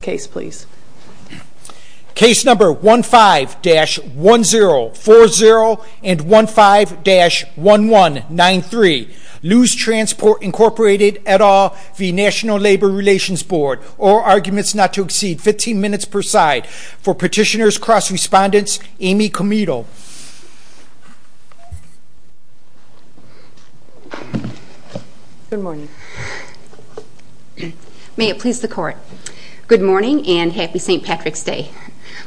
15-1040 15-1193 Lous Transport Inc v. NLRB 15 minutes per side for Petitioners Cross Respondents Amy Comito Good morning. May it please the Court. Good morning and Happy St. Patrick's Day.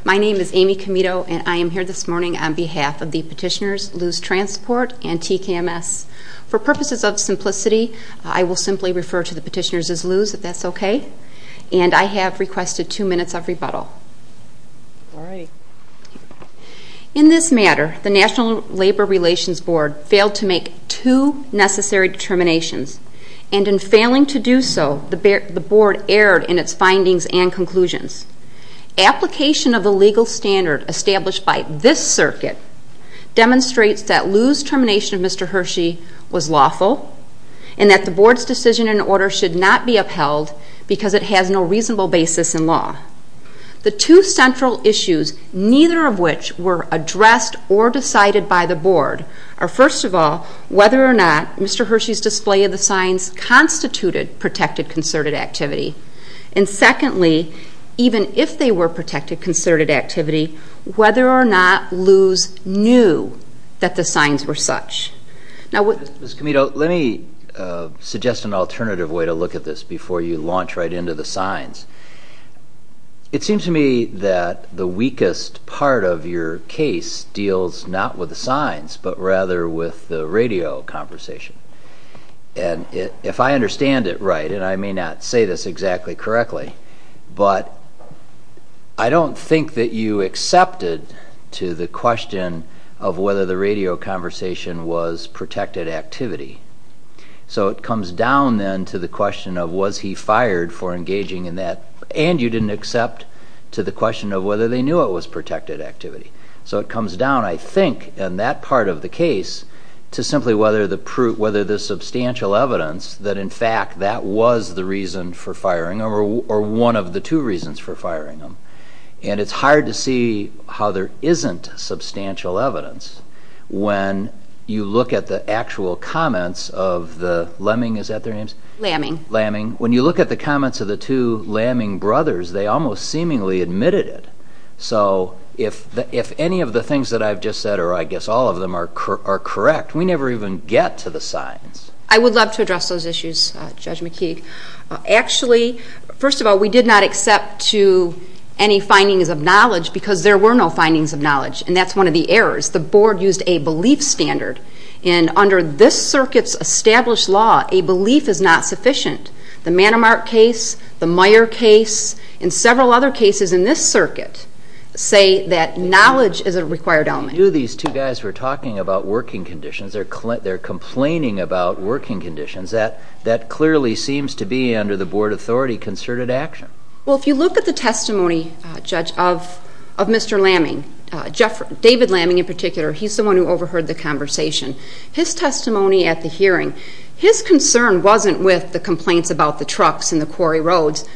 My name is Amy Comito and I am here this morning on behalf of the Petitioners Lous Transport and TKMS. For purposes of simplicity, I will simply refer to the Petitioners as Lous if that's okay. And I have requested two minutes of rebuttal. In this matter, the National Labor Relations Board failed to make two necessary determinations and in failing to do so, the Board erred in its findings and conclusions. Application of the legal standard established by this circuit demonstrates that Lous' termination of Mr. Hershey was lawful and that the Board's decision and order should not be upheld because it has no reasonable basis in law. The two central issues, neither of which were addressed or decided by the Board, are first of all whether or not Mr. Hershey's display of the signs constituted protected concerted activity and secondly, even if they were protected concerted activity, whether or not Lous knew that the signs were such. Mr. Comito, let me suggest an alternative way to look at this before you launch right into the signs. It seems to me that the weakest part of your case deals not with the signs but rather with the radio conversation. And if I understand it right, and I may not say this exactly correctly, but I don't think that you accepted to the question of whether the radio conversation was protected activity. So it comes down then to the question of was he fired for engaging in that and you didn't accept to the question of whether they knew it was protected activity. So it comes down, I think, in that part of the case to simply whether the substantial evidence that in fact that was the reason for firing him or one of the two reasons for firing him. And it's hard to see how there isn't substantial evidence when you look at the actual comments of the Lemming, is that their names? Lemming. Lemming. When you look at the comments of the two Lemming brothers, they almost seemingly admitted it. So if any of the things that I've just said, or I guess all of them, are correct, we never even get to the signs. I would love to address those issues, Judge McKeague. Actually, first of all, we did not accept to any findings of knowledge because there were no findings of knowledge, and that's one of the errors. The board used a belief standard, and under this circuit's established law, a belief is not sufficient. The Manamart case, the Meyer case, and several other cases in this circuit say that knowledge is a required element. I knew these two guys were talking about working conditions. They're complaining about working conditions. That clearly seems to be, under the board authority, concerted action. Well, if you look at the testimony, Judge, of Mr. Lemming, David Lemming in particular, he's the one who overheard the conversation. His testimony at the hearing, his concern wasn't with the complaints about the trucks and the quarry roads.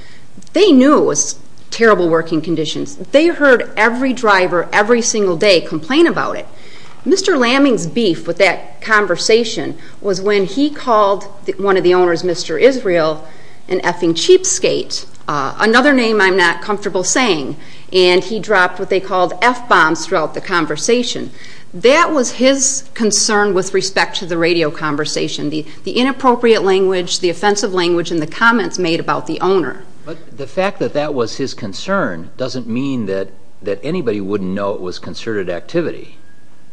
They knew it was terrible working conditions. They heard every driver every single day complain about it. Mr. Lemming's beef with that conversation was when he called one of the owners, Mr. Israel, an effing cheapskate, another name I'm not comfortable saying, and he dropped what they called F-bombs throughout the conversation. That was his concern with respect to the radio conversation, the inappropriate language, the offensive language, and the comments made about the owner. But the fact that that was his concern doesn't mean that anybody wouldn't know it was concerted activity.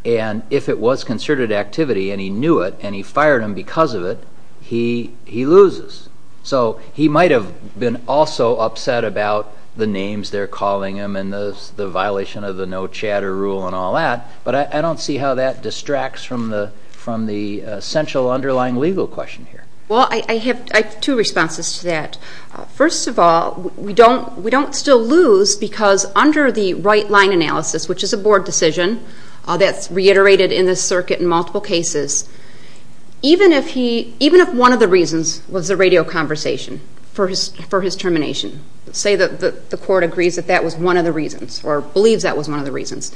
And if it was concerted activity and he knew it and he fired him because of it, he loses. So he might have been also upset about the names they're calling him and the violation of the no chatter rule and all that, but I don't see how that distracts from the essential underlying legal question here. Well, I have two responses to that. First of all, we don't still lose because under the right line analysis, which is a board decision that's reiterated in this circuit in multiple cases, even if one of the reasons was the radio conversation for his termination, say that the court agrees that that was one of the reasons or believes that was one of the reasons,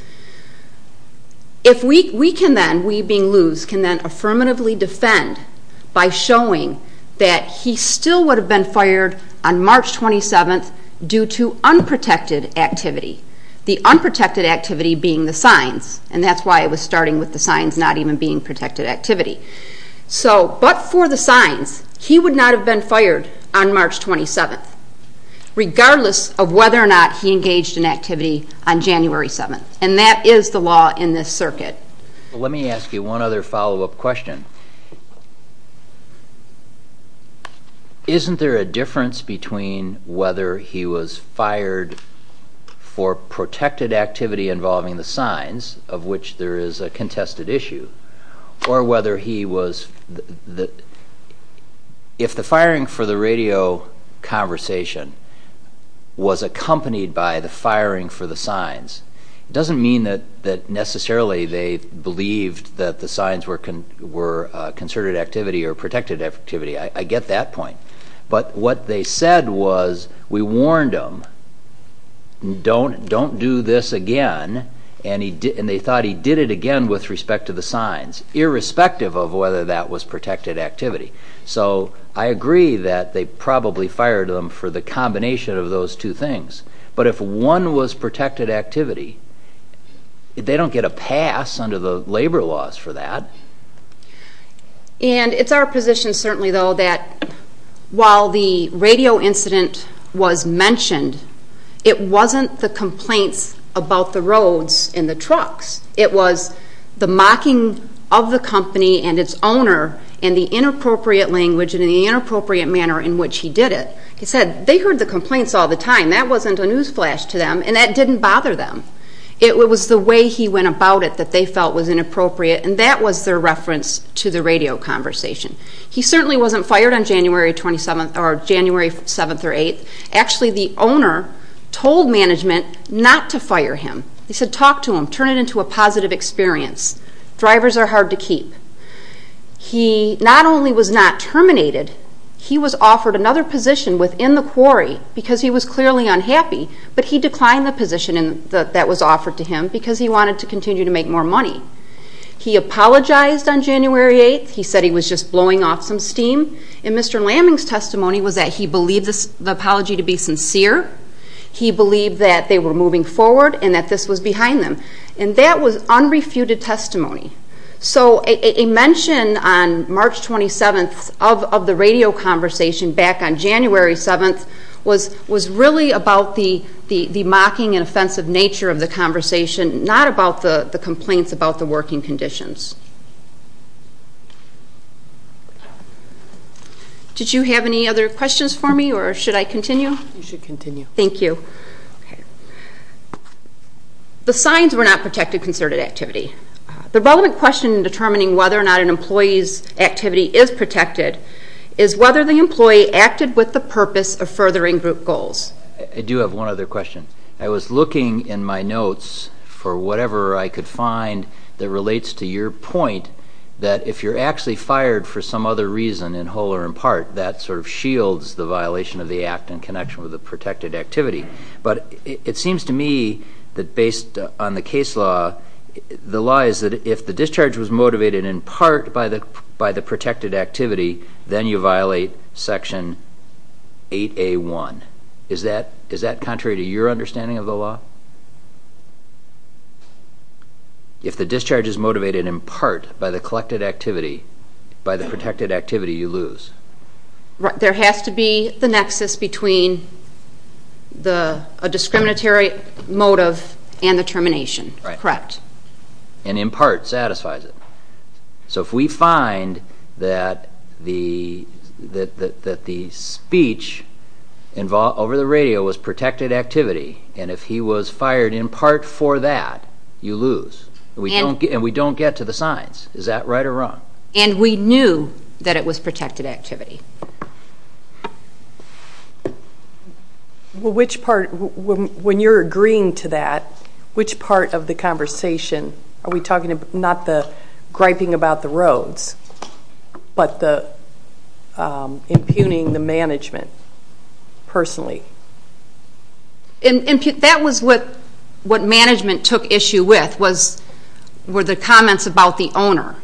if we can then, we being lose, can then affirmatively defend by showing that he still would have been fired on March 27th due to unprotected activity, the unprotected activity being the signs, and that's why it was starting with the signs not even being protected activity. So but for the signs, he would not have been fired on March 27th, regardless of whether or not he engaged in activity on January 7th, and that is the law in this circuit. Let me ask you one other follow-up question. Isn't there a difference between whether he was fired for protected activity involving the signs, of which there is a contested issue, or whether he was, if the firing for the radio conversation was accompanied by the firing for the signs, it doesn't mean that necessarily they believed that the signs were concerted activity or protected activity, I get that point, but what they said was we warned him, don't do this again, and they thought he did it again with respect to the signs, irrespective of whether that was protected activity. So I agree that they probably fired him for the combination of those two things, but if one was protected activity, they don't get a pass under the labor laws for that. And it's our position certainly though that while the radio incident was mentioned, it wasn't the complaints about the roads and the trucks. It was the mocking of the company and its owner and the inappropriate language and the inappropriate manner in which he did it. Like I said, they heard the complaints all the time. That wasn't a newsflash to them, and that didn't bother them. It was the way he went about it that they felt was inappropriate, and that was their reference to the radio conversation. He certainly wasn't fired on January 27th or January 7th or 8th. Actually, the owner told management not to fire him. He said talk to him, turn it into a positive experience. Drivers are hard to keep. He not only was not terminated, he was offered another position within the quarry because he was clearly unhappy, but he declined the position that was offered to him because he wanted to continue to make more money. He apologized on January 8th. He said he was just blowing off some steam, and Mr. Lamming's testimony was that he believed the apology to be sincere. He believed that they were moving forward and that this was behind them, and that was unrefuted testimony. So a mention on March 27th of the radio conversation back on January 7th was really about the mocking and offensive nature of the conversation, not about the complaints about the working conditions. Did you have any other questions for me, or should I continue? You should continue. Thank you. The signs were not protected concerted activity. The relevant question in determining whether or not an employee's activity is protected is whether the employee acted with the purpose of furthering group goals. I do have one other question. I was looking in my notes for whatever I could find that relates to your point that if you're actually fired for some other reason, in whole or in part, that sort of shields the violation of the act in connection with the protected activity. But it seems to me that based on the case law, the law is that if the discharge was motivated in part by the protected activity, then you violate Section 8A.1. Is that contrary to your understanding of the law? If the discharge is motivated in part by the collected activity, by the protected activity, you lose. There has to be the nexus between a discriminatory motive and the termination. Correct. And in part satisfies it. So if we find that the speech over the radio was protected activity and if he was fired in part for that, you lose. And we don't get to the signs. Is that right or wrong? And we knew that it was protected activity. When you're agreeing to that, which part of the conversation are we talking about? Not the griping about the roads, but impugning the management personally. That was what management took issue with, were the comments about the owner.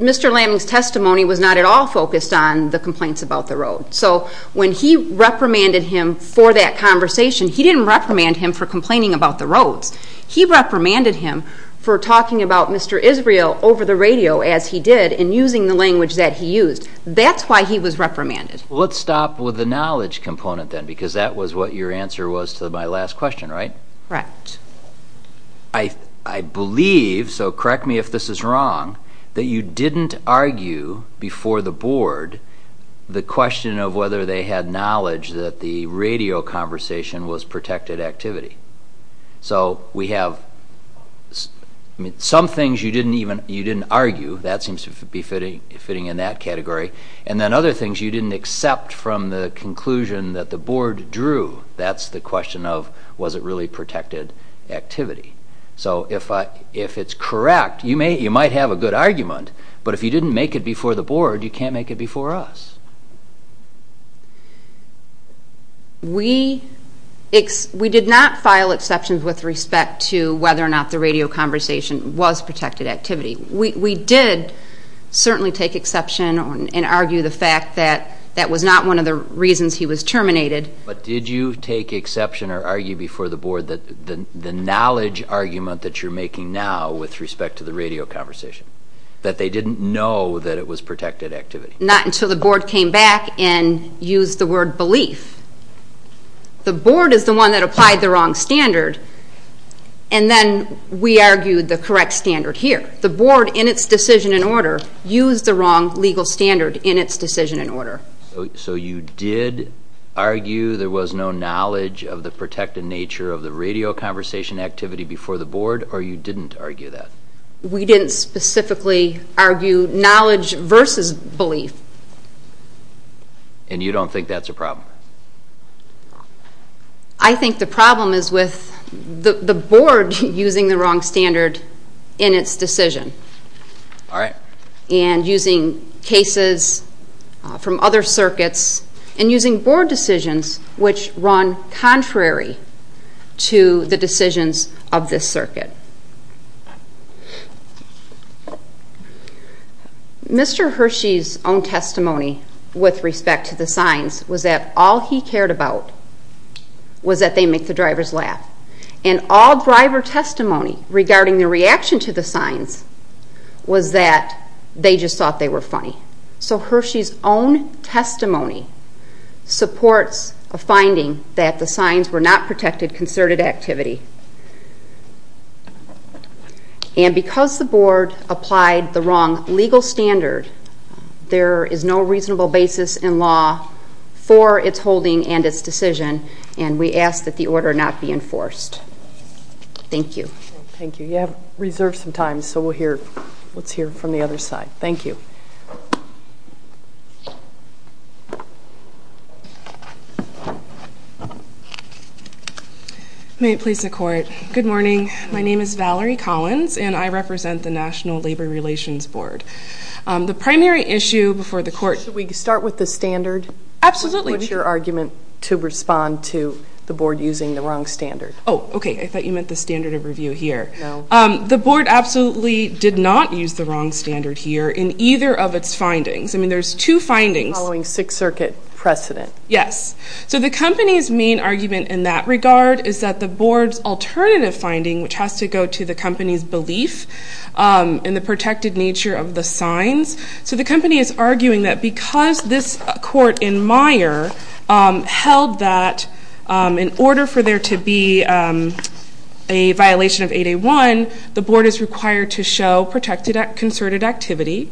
Mr. Lambing's testimony was not at all focused on the complaints about the road. So when he reprimanded him for that conversation, he didn't reprimand him for complaining about the roads. He reprimanded him for talking about Mr. Israel over the radio as he did and using the language that he used. That's why he was reprimanded. Well, let's stop with the knowledge component then because that was what your answer was to my last question, right? Correct. I believe, so correct me if this is wrong, that you didn't argue before the board the question of whether they had knowledge that the radio conversation was protected activity. So we have some things you didn't argue. That seems to be fitting in that category. And then other things you didn't accept from the conclusion that the board drew. That's the question of was it really protected activity. So if it's correct, you might have a good argument, but if you didn't make it before the board, you can't make it before us. We did not file exceptions with respect to whether or not the radio conversation was protected activity. We did certainly take exception and argue the fact that that was not one of the reasons he was terminated. But did you take exception or argue before the board that the knowledge argument that you're making now with respect to the radio conversation, that they didn't know that it was protected activity? Not until the board came back and used the word belief. The board is the one that applied the wrong standard, and then we argued the correct standard here. The board, in its decision and order, used the wrong legal standard in its decision and order. So you did argue there was no knowledge of the protected nature of the radio conversation activity before the board, or you didn't argue that? We didn't specifically argue knowledge versus belief. And you don't think that's a problem? I think the problem is with the board using the wrong standard in its decision, and using cases from other circuits, and using board decisions which run contrary to the decisions of this circuit. Mr. Hershey's own testimony with respect to the signs was that all he cared about was that they make the drivers laugh. And all driver testimony regarding the reaction to the signs was that they just thought they were funny. So Hershey's own testimony supports a finding that the signs were not protected concerted activity. And because the board applied the wrong legal standard, there is no reasonable basis in law for its holding and its decision, and we ask that the order not be enforced. Thank you. Thank you. You have reserved some time, so let's hear from the other side. Thank you. May it please the court. Good morning. My name is Valerie Collins, and I represent the National Labor Relations Board. The primary issue before the court. Should we start with the standard? Absolutely. What's your argument to respond to the board using the wrong standard? Oh, okay, I thought you meant the standard of review here. No. The board absolutely did not use the wrong standard here in either of its findings. I mean, there's two findings. Following Sixth Circuit precedent. Yes. So the company's main argument in that regard is that the board's alternative finding, which has to go to the company's belief in the protected nature of the signs. So the company is arguing that because this court in Meyer held that in order for there to be a violation of 8A1, one, the board is required to show protected concerted activity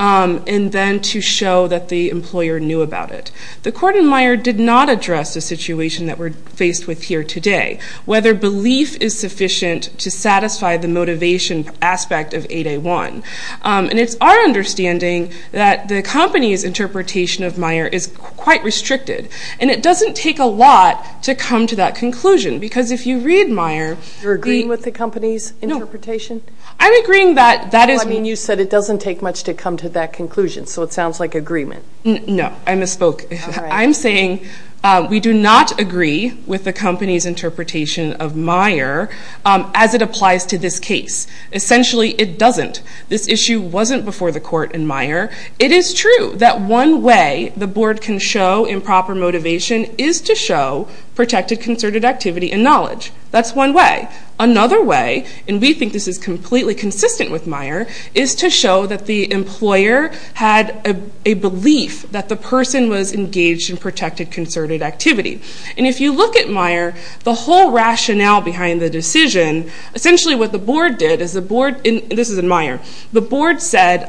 and then to show that the employer knew about it. The court in Meyer did not address the situation that we're faced with here today, whether belief is sufficient to satisfy the motivation aspect of 8A1. And it's our understanding that the company's interpretation of Meyer is quite restricted, and it doesn't take a lot to come to that conclusion because if you read Meyer. You're agreeing with the company's interpretation? No. I'm agreeing that that is. I mean, you said it doesn't take much to come to that conclusion, so it sounds like agreement. No. I misspoke. I'm saying we do not agree with the company's interpretation of Meyer as it applies to this case. Essentially, it doesn't. This issue wasn't before the court in Meyer. It is true that one way the board can show improper motivation is to show protected concerted activity and knowledge. That's one way. Another way, and we think this is completely consistent with Meyer, is to show that the employer had a belief that the person was engaged in protected concerted activity. And if you look at Meyer, the whole rationale behind the decision, essentially what the board did is the board, and this is in Meyer, the board said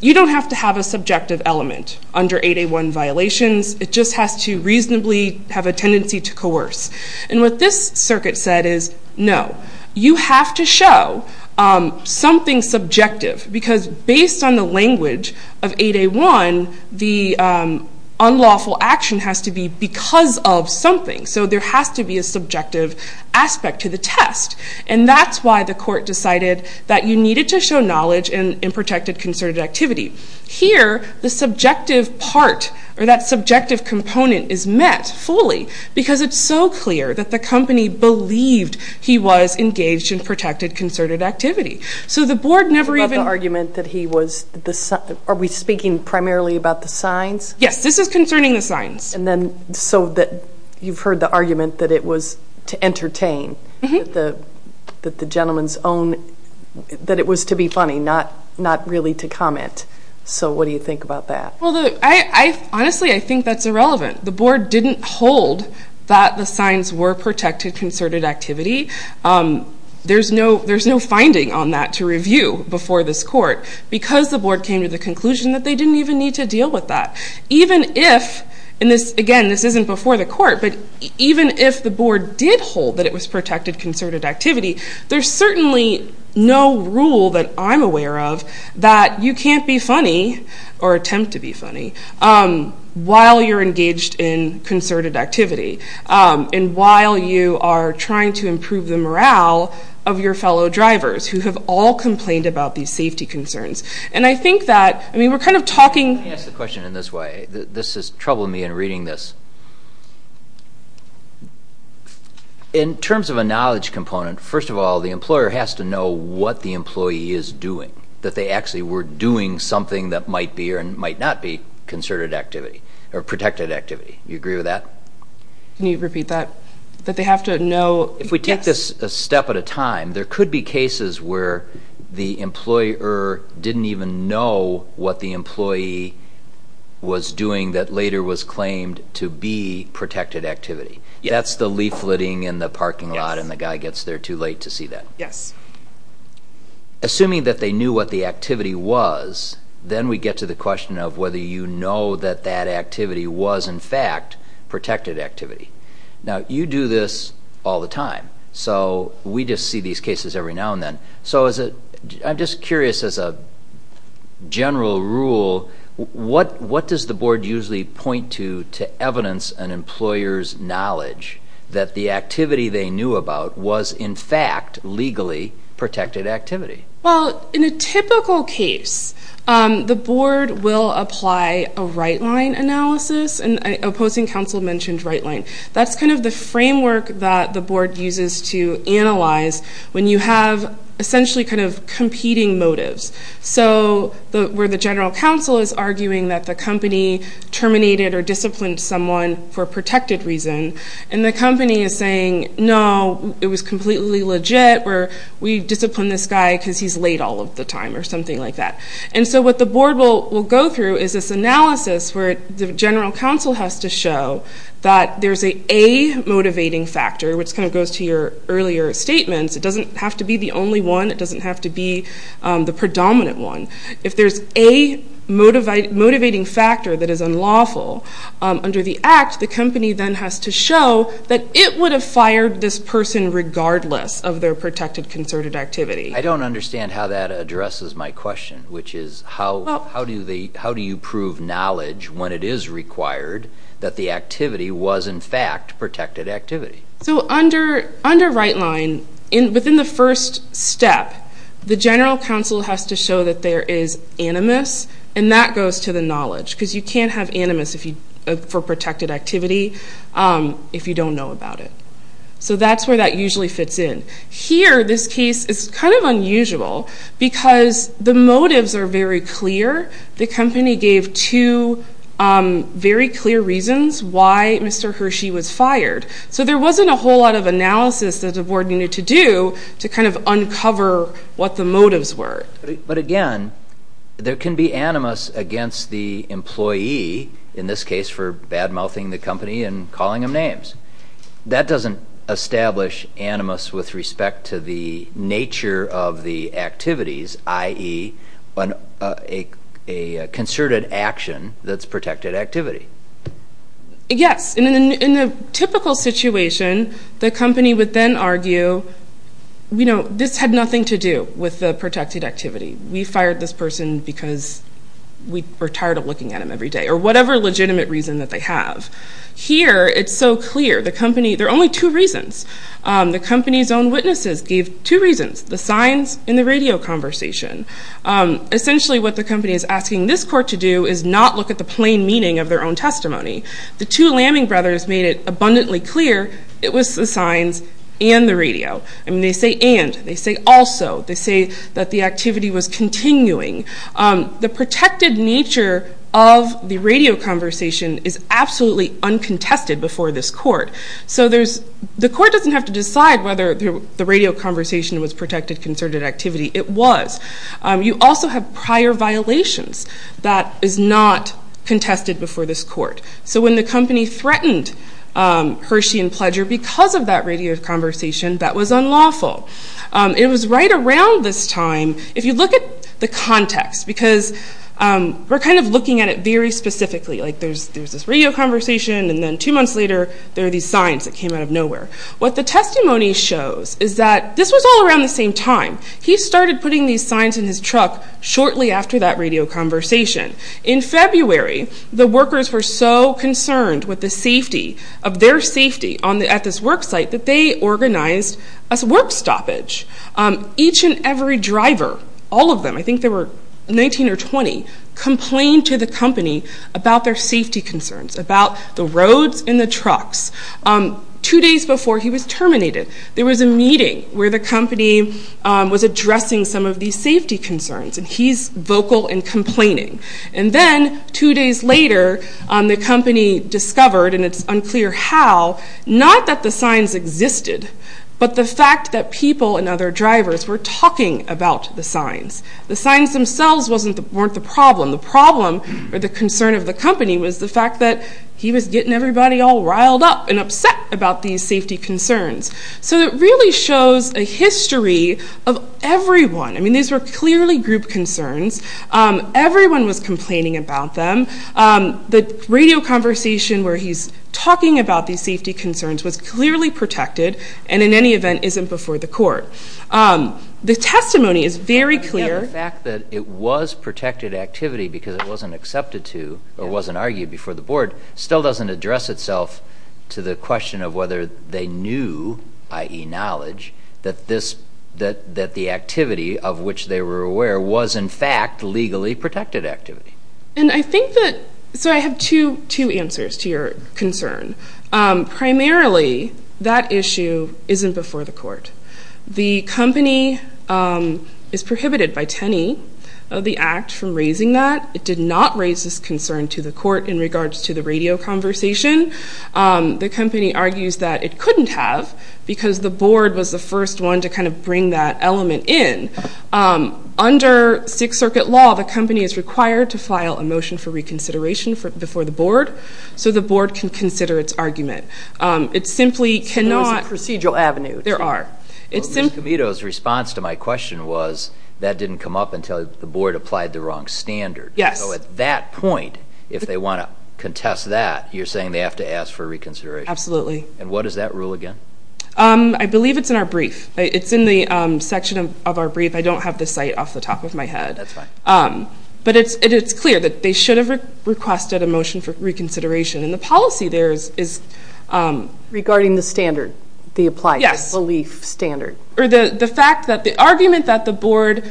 you don't have to have a subjective element under 8A1 violations. It just has to reasonably have a tendency to coerce. And what this circuit said is no. You have to show something subjective because based on the language of 8A1, the unlawful action has to be because of something. So there has to be a subjective aspect to the test. And that's why the court decided that you needed to show knowledge in protected concerted activity. Here, the subjective part or that subjective component is met fully because it's so clear that the company believed he was engaged in protected concerted activity. So the board never even... About the argument that he was, are we speaking primarily about the signs? Yes, this is concerning the signs. And then so you've heard the argument that it was to entertain, that the gentleman's own, that it was to be funny, not really to comment. So what do you think about that? Honestly, I think that's irrelevant. The board didn't hold that the signs were protected concerted activity. There's no finding on that to review before this court because the board came to the conclusion that they didn't even need to deal with that. Even if, and again, this isn't before the court, but even if the board did hold that it was protected concerted activity, there's certainly no rule that I'm aware of that you can't be funny or attempt to be funny while you're engaged in concerted activity and while you are trying to improve the morale of your fellow drivers who have all complained about these safety concerns. And I think that, I mean, we're kind of talking... Let me ask the question in this way. This is troubling me in reading this. In terms of a knowledge component, first of all, the employer has to know what the employee is doing, that they actually were doing something that might be or might not be concerted activity or protected activity. Do you agree with that? Can you repeat that? That they have to know... If we take this a step at a time, there could be cases where the employer didn't even know what the employee was doing that later was claimed to be protected activity. That's the leafleting in the parking lot and the guy gets there too late to see that. Yes. Assuming that they knew what the activity was, then we get to the question of whether you know that that activity was, in fact, protected activity. Now, you do this all the time, so we just see these cases every now and then. So I'm just curious, as a general rule, to evidence an employer's knowledge that the activity they knew about was, in fact, legally protected activity. Well, in a typical case, the board will apply a right-line analysis. Opposing counsel mentioned right-line. That's kind of the framework that the board uses to analyze when you have essentially kind of competing motives. So where the general counsel is arguing that the company terminated or disciplined someone for a protected reason and the company is saying, no, it was completely legit. We disciplined this guy because he's late all of the time or something like that. And so what the board will go through is this analysis where the general counsel has to show that there's a motivating factor, which kind of goes to your earlier statements. It doesn't have to be the only one. It doesn't have to be the predominant one. If there's a motivating factor that is unlawful under the act, the company then has to show that it would have fired this person regardless of their protected concerted activity. I don't understand how that addresses my question, which is how do you prove knowledge when it is required that the activity was, in fact, protected activity? So under right-line, within the first step, the general counsel has to show that there is animus, and that goes to the knowledge because you can't have animus for protected activity if you don't know about it. So that's where that usually fits in. Here, this case is kind of unusual because the motives are very clear. The company gave two very clear reasons why Mr. Hershey was fired. So there wasn't a whole lot of analysis that the board needed to do to kind of uncover what the motives were. But again, there can be animus against the employee, in this case for bad-mouthing the company and calling them names. That doesn't establish animus with respect to the nature of the activities, i.e., a concerted action that's protected activity. Yes. In a typical situation, the company would then argue, this had nothing to do with the protected activity. We fired this person because we were tired of looking at them every day or whatever legitimate reason that they have. Here, it's so clear. There are only two reasons. The company's own witnesses gave two reasons, the signs and the radio conversation. Essentially, what the company is asking this court to do is not look at the plain meaning of their own testimony. The two Lamming brothers made it abundantly clear it was the signs and the radio. They say and. They say also. They say that the activity was continuing. The protected nature of the radio conversation is absolutely uncontested before this court. So the court doesn't have to decide whether the radio conversation was protected concerted activity. It was. You also have prior violations that is not contested before this court. So when the company threatened Hershey and Pledger because of that radio conversation, that was unlawful. It was right around this time. If you look at the context, because we're kind of looking at it very specifically, like there's this radio conversation, and then two months later, there are these signs that came out of nowhere. What the testimony shows is that this was all around the same time. He started putting these signs in his truck shortly after that radio conversation. In February, the workers were so concerned with the safety of their safety at this work site that they organized a work stoppage. Each and every driver, all of them, I think there were 19 or 20, complained to the company about their safety concerns, about the roads and the trucks. Two days before he was terminated, there was a meeting where the company was addressing some of these safety concerns, and he's vocal in complaining. And then two days later, the company discovered, and it's unclear how, not that the signs existed, but the fact that people and other drivers were talking about the signs. The signs themselves weren't the problem. The problem or the concern of the company was the fact that he was getting everybody all riled up and upset about these safety concerns. So it really shows a history of everyone. I mean, these were clearly group concerns. Everyone was complaining about them. The radio conversation where he's talking about these safety concerns was clearly protected and in any event isn't before the court. The testimony is very clear. The fact that it was protected activity because it wasn't accepted to or wasn't argued before the board still doesn't address itself to the question of whether they knew, i.e. knowledge, that the activity of which they were aware was in fact legally protected activity. And I think that... So I have two answers to your concern. Primarily, that issue isn't before the court. The company is prohibited by 10E of the Act from raising that. It did not raise this concern to the court in regards to the radio conversation. The company argues that it couldn't have because the board was the first one to kind of bring that element in. Under Sixth Circuit law, the company is required to file a motion for reconsideration before the board so the board can consider its argument. It simply cannot... So there's a procedural avenue. There are. Ms. Comito's response to my question was that didn't come up until the board applied the wrong standard. Yes. So at that point, if they want to contest that, you're saying they have to ask for reconsideration. Absolutely. And what is that rule again? I believe it's in our brief. It's in the section of our brief. I don't have the site off the top of my head. That's fine. But it's clear that they should have requested a motion for reconsideration. And the policy there is... Regarding the standard, the applied belief standard. Or the fact that the argument that the board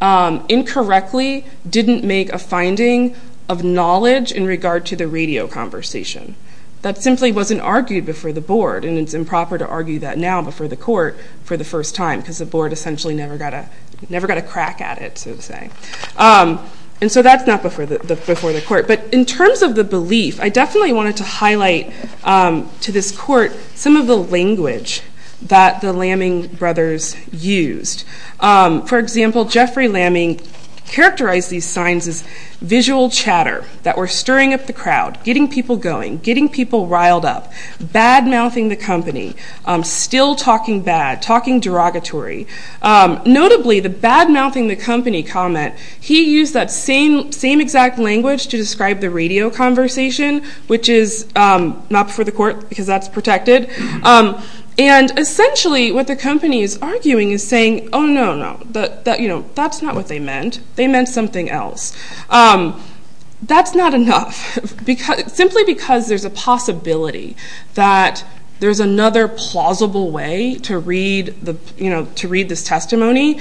incorrectly didn't make a finding of knowledge in regard to the radio conversation. That simply wasn't argued before the board. And it's improper to argue that now before the court for the first time because the board essentially never got a crack at it, so to say. And so that's not before the court. But in terms of the belief, I definitely wanted to highlight to this court some of the language that the Lamming brothers used. For example, Jeffrey Lamming characterized these signs as visual chatter that were stirring up the crowd, getting people going, getting people riled up, bad-mouthing the company, still talking bad, talking derogatory. Notably, the bad-mouthing the company comment, he used that same exact language to describe the radio conversation, which is not before the court because that's protected. And essentially what the company is arguing is saying, oh, no, no, that's not what they meant. They meant something else. That's not enough. Simply because there's a possibility that there's another plausible way to read this testimony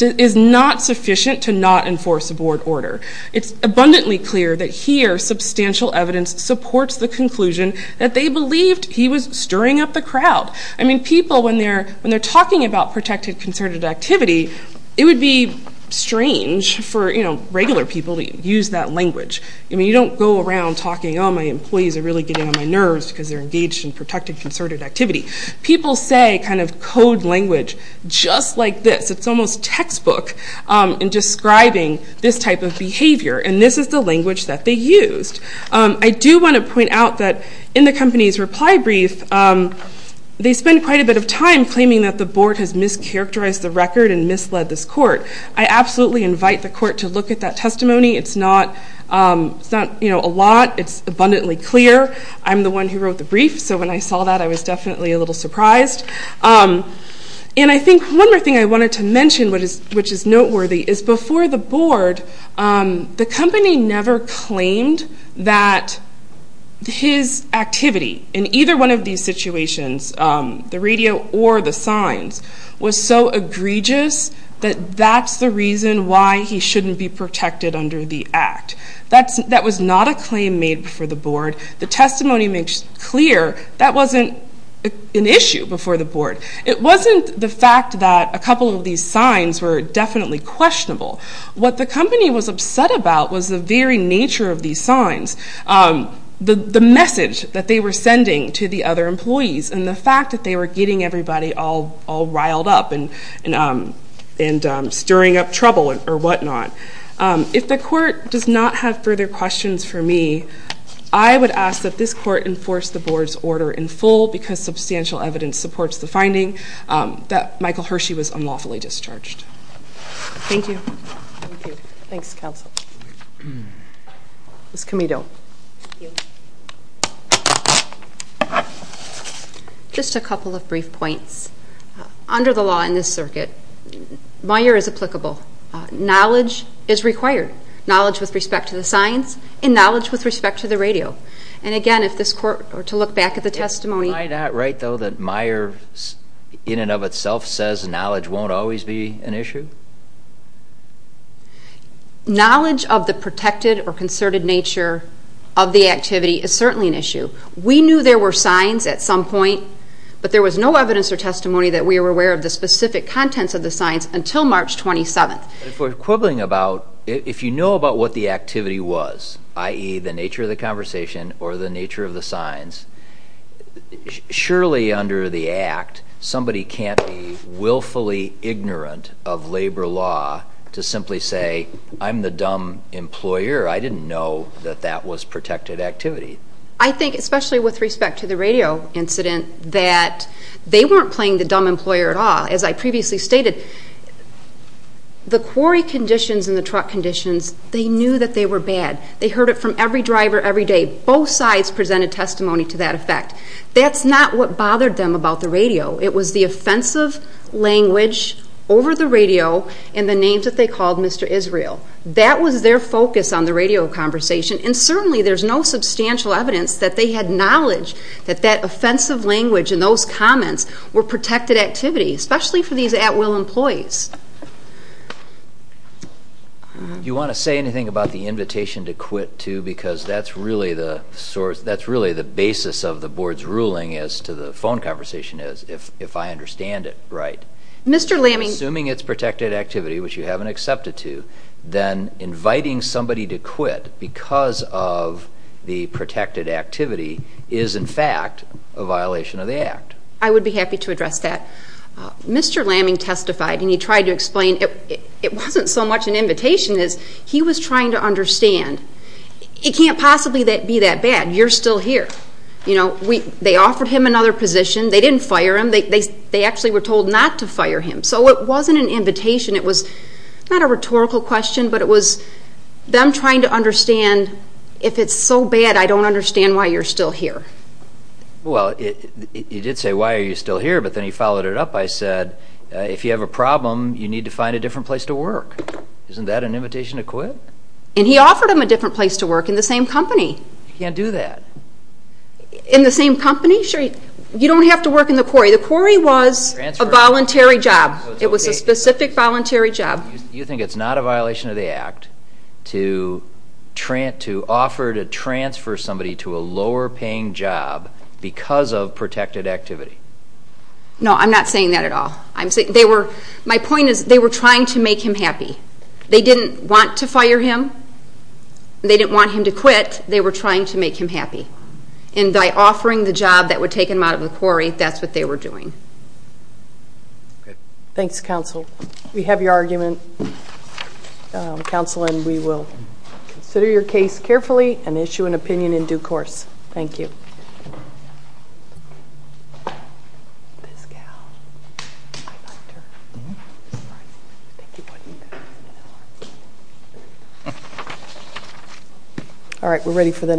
is not sufficient to not enforce a board order. It's abundantly clear that here substantial evidence supports the conclusion that they believed he was stirring up the crowd. People, when they're talking about protected concerted activity, it would be strange for regular people to use that language. You don't go around talking, oh, my employees are really getting on my nerves because they're engaged in protected concerted activity. People say code language just like this. It's almost textbook in describing this type of behavior, and this is the language that they used. I do want to point out that in the company's reply brief, they spend quite a bit of time claiming that the board has mischaracterized the record and misled this court. I absolutely invite the court to look at that testimony. It's not a lot. It's abundantly clear. I'm the one who wrote the brief, so when I saw that I was definitely a little surprised. And I think one more thing I wanted to mention, which is noteworthy, is before the board, the company never claimed that his activity in either one of these situations, the radio or the signs, was so egregious that that's the reason why he shouldn't be protected under the act. That was not a claim made before the board. The testimony makes clear that wasn't an issue before the board. It wasn't the fact that a couple of these signs were definitely questionable. What the company was upset about was the very nature of these signs, the message that they were sending to the other employees and the fact that they were getting everybody all riled up and stirring up trouble or whatnot. If the court does not have further questions for me, I would ask that this court enforce the board's order in full because substantial evidence supports the finding that Michael Hershey was unlawfully discharged. Thank you. Thank you. Thanks, counsel. Ms. Comito. Thank you. Just a couple of brief points. Under the law in this circuit, Meijer is applicable. Knowledge is required. Knowledge with respect to the signs and knowledge with respect to the radio. And again, if this court were to look back at the testimony... Am I not right, though, that Meijer in and of itself says knowledge won't always be an issue? Knowledge of the protected or concerted nature of the activity is certainly an issue. We knew there were signs at some point, but there was no evidence or testimony that we were aware of the specific contents of the signs until March 27th. If you know about what the activity was, i.e., the nature of the conversation or the nature of the signs, surely under the Act, somebody can't be willfully ignorant of labor law to simply say, I'm the dumb employer. I didn't know that that was protected activity. I think, especially with respect to the radio incident, that they weren't playing the dumb employer at all. As I previously stated, the quarry conditions and the truck conditions, they knew that they were bad. They heard it from every driver every day. Both sides presented testimony to that effect. That's not what bothered them about the radio. It was the offensive language over the radio and the names that they called Mr. Israel. That was their focus on the radio conversation, and certainly there's no substantial evidence that they had knowledge that that offensive language and those comments were protected activity, especially for these at-will employees. Do you want to say anything about the invitation to quit too? Because that's really the basis of the Board's ruling as to the phone conversation is, if I understand it right. Assuming it's protected activity, which you haven't accepted to, then inviting somebody to quit because of the protected activity is, in fact, a violation of the Act. I would be happy to address that. Mr. Lamming testified, and he tried to explain. It wasn't so much an invitation as he was trying to understand. It can't possibly be that bad. You're still here. They offered him another position. They didn't fire him. They actually were told not to fire him. So it wasn't an invitation. It was not a rhetorical question, but it was them trying to understand, if it's so bad, I don't understand why you're still here. Well, you did say, why are you still here? But then you followed it up. I said, if you have a problem, you need to find a different place to work. Isn't that an invitation to quit? And he offered him a different place to work in the same company. You can't do that. In the same company? You don't have to work in the quarry. The quarry was a voluntary job. It was a specific voluntary job. You think it's not a violation of the Act to offer to transfer somebody to a lower-paying job because of protected activity? No, I'm not saying that at all. My point is they were trying to make him happy. They didn't want to fire him. They didn't want him to quit. They were trying to make him happy. And by offering the job that would take him out of the quarry, that's what they were doing. Thanks, Counsel. We have your argument, Counsel, and we will consider your case carefully and issue an opinion in due course. Thank you. All right, we're ready for the next one.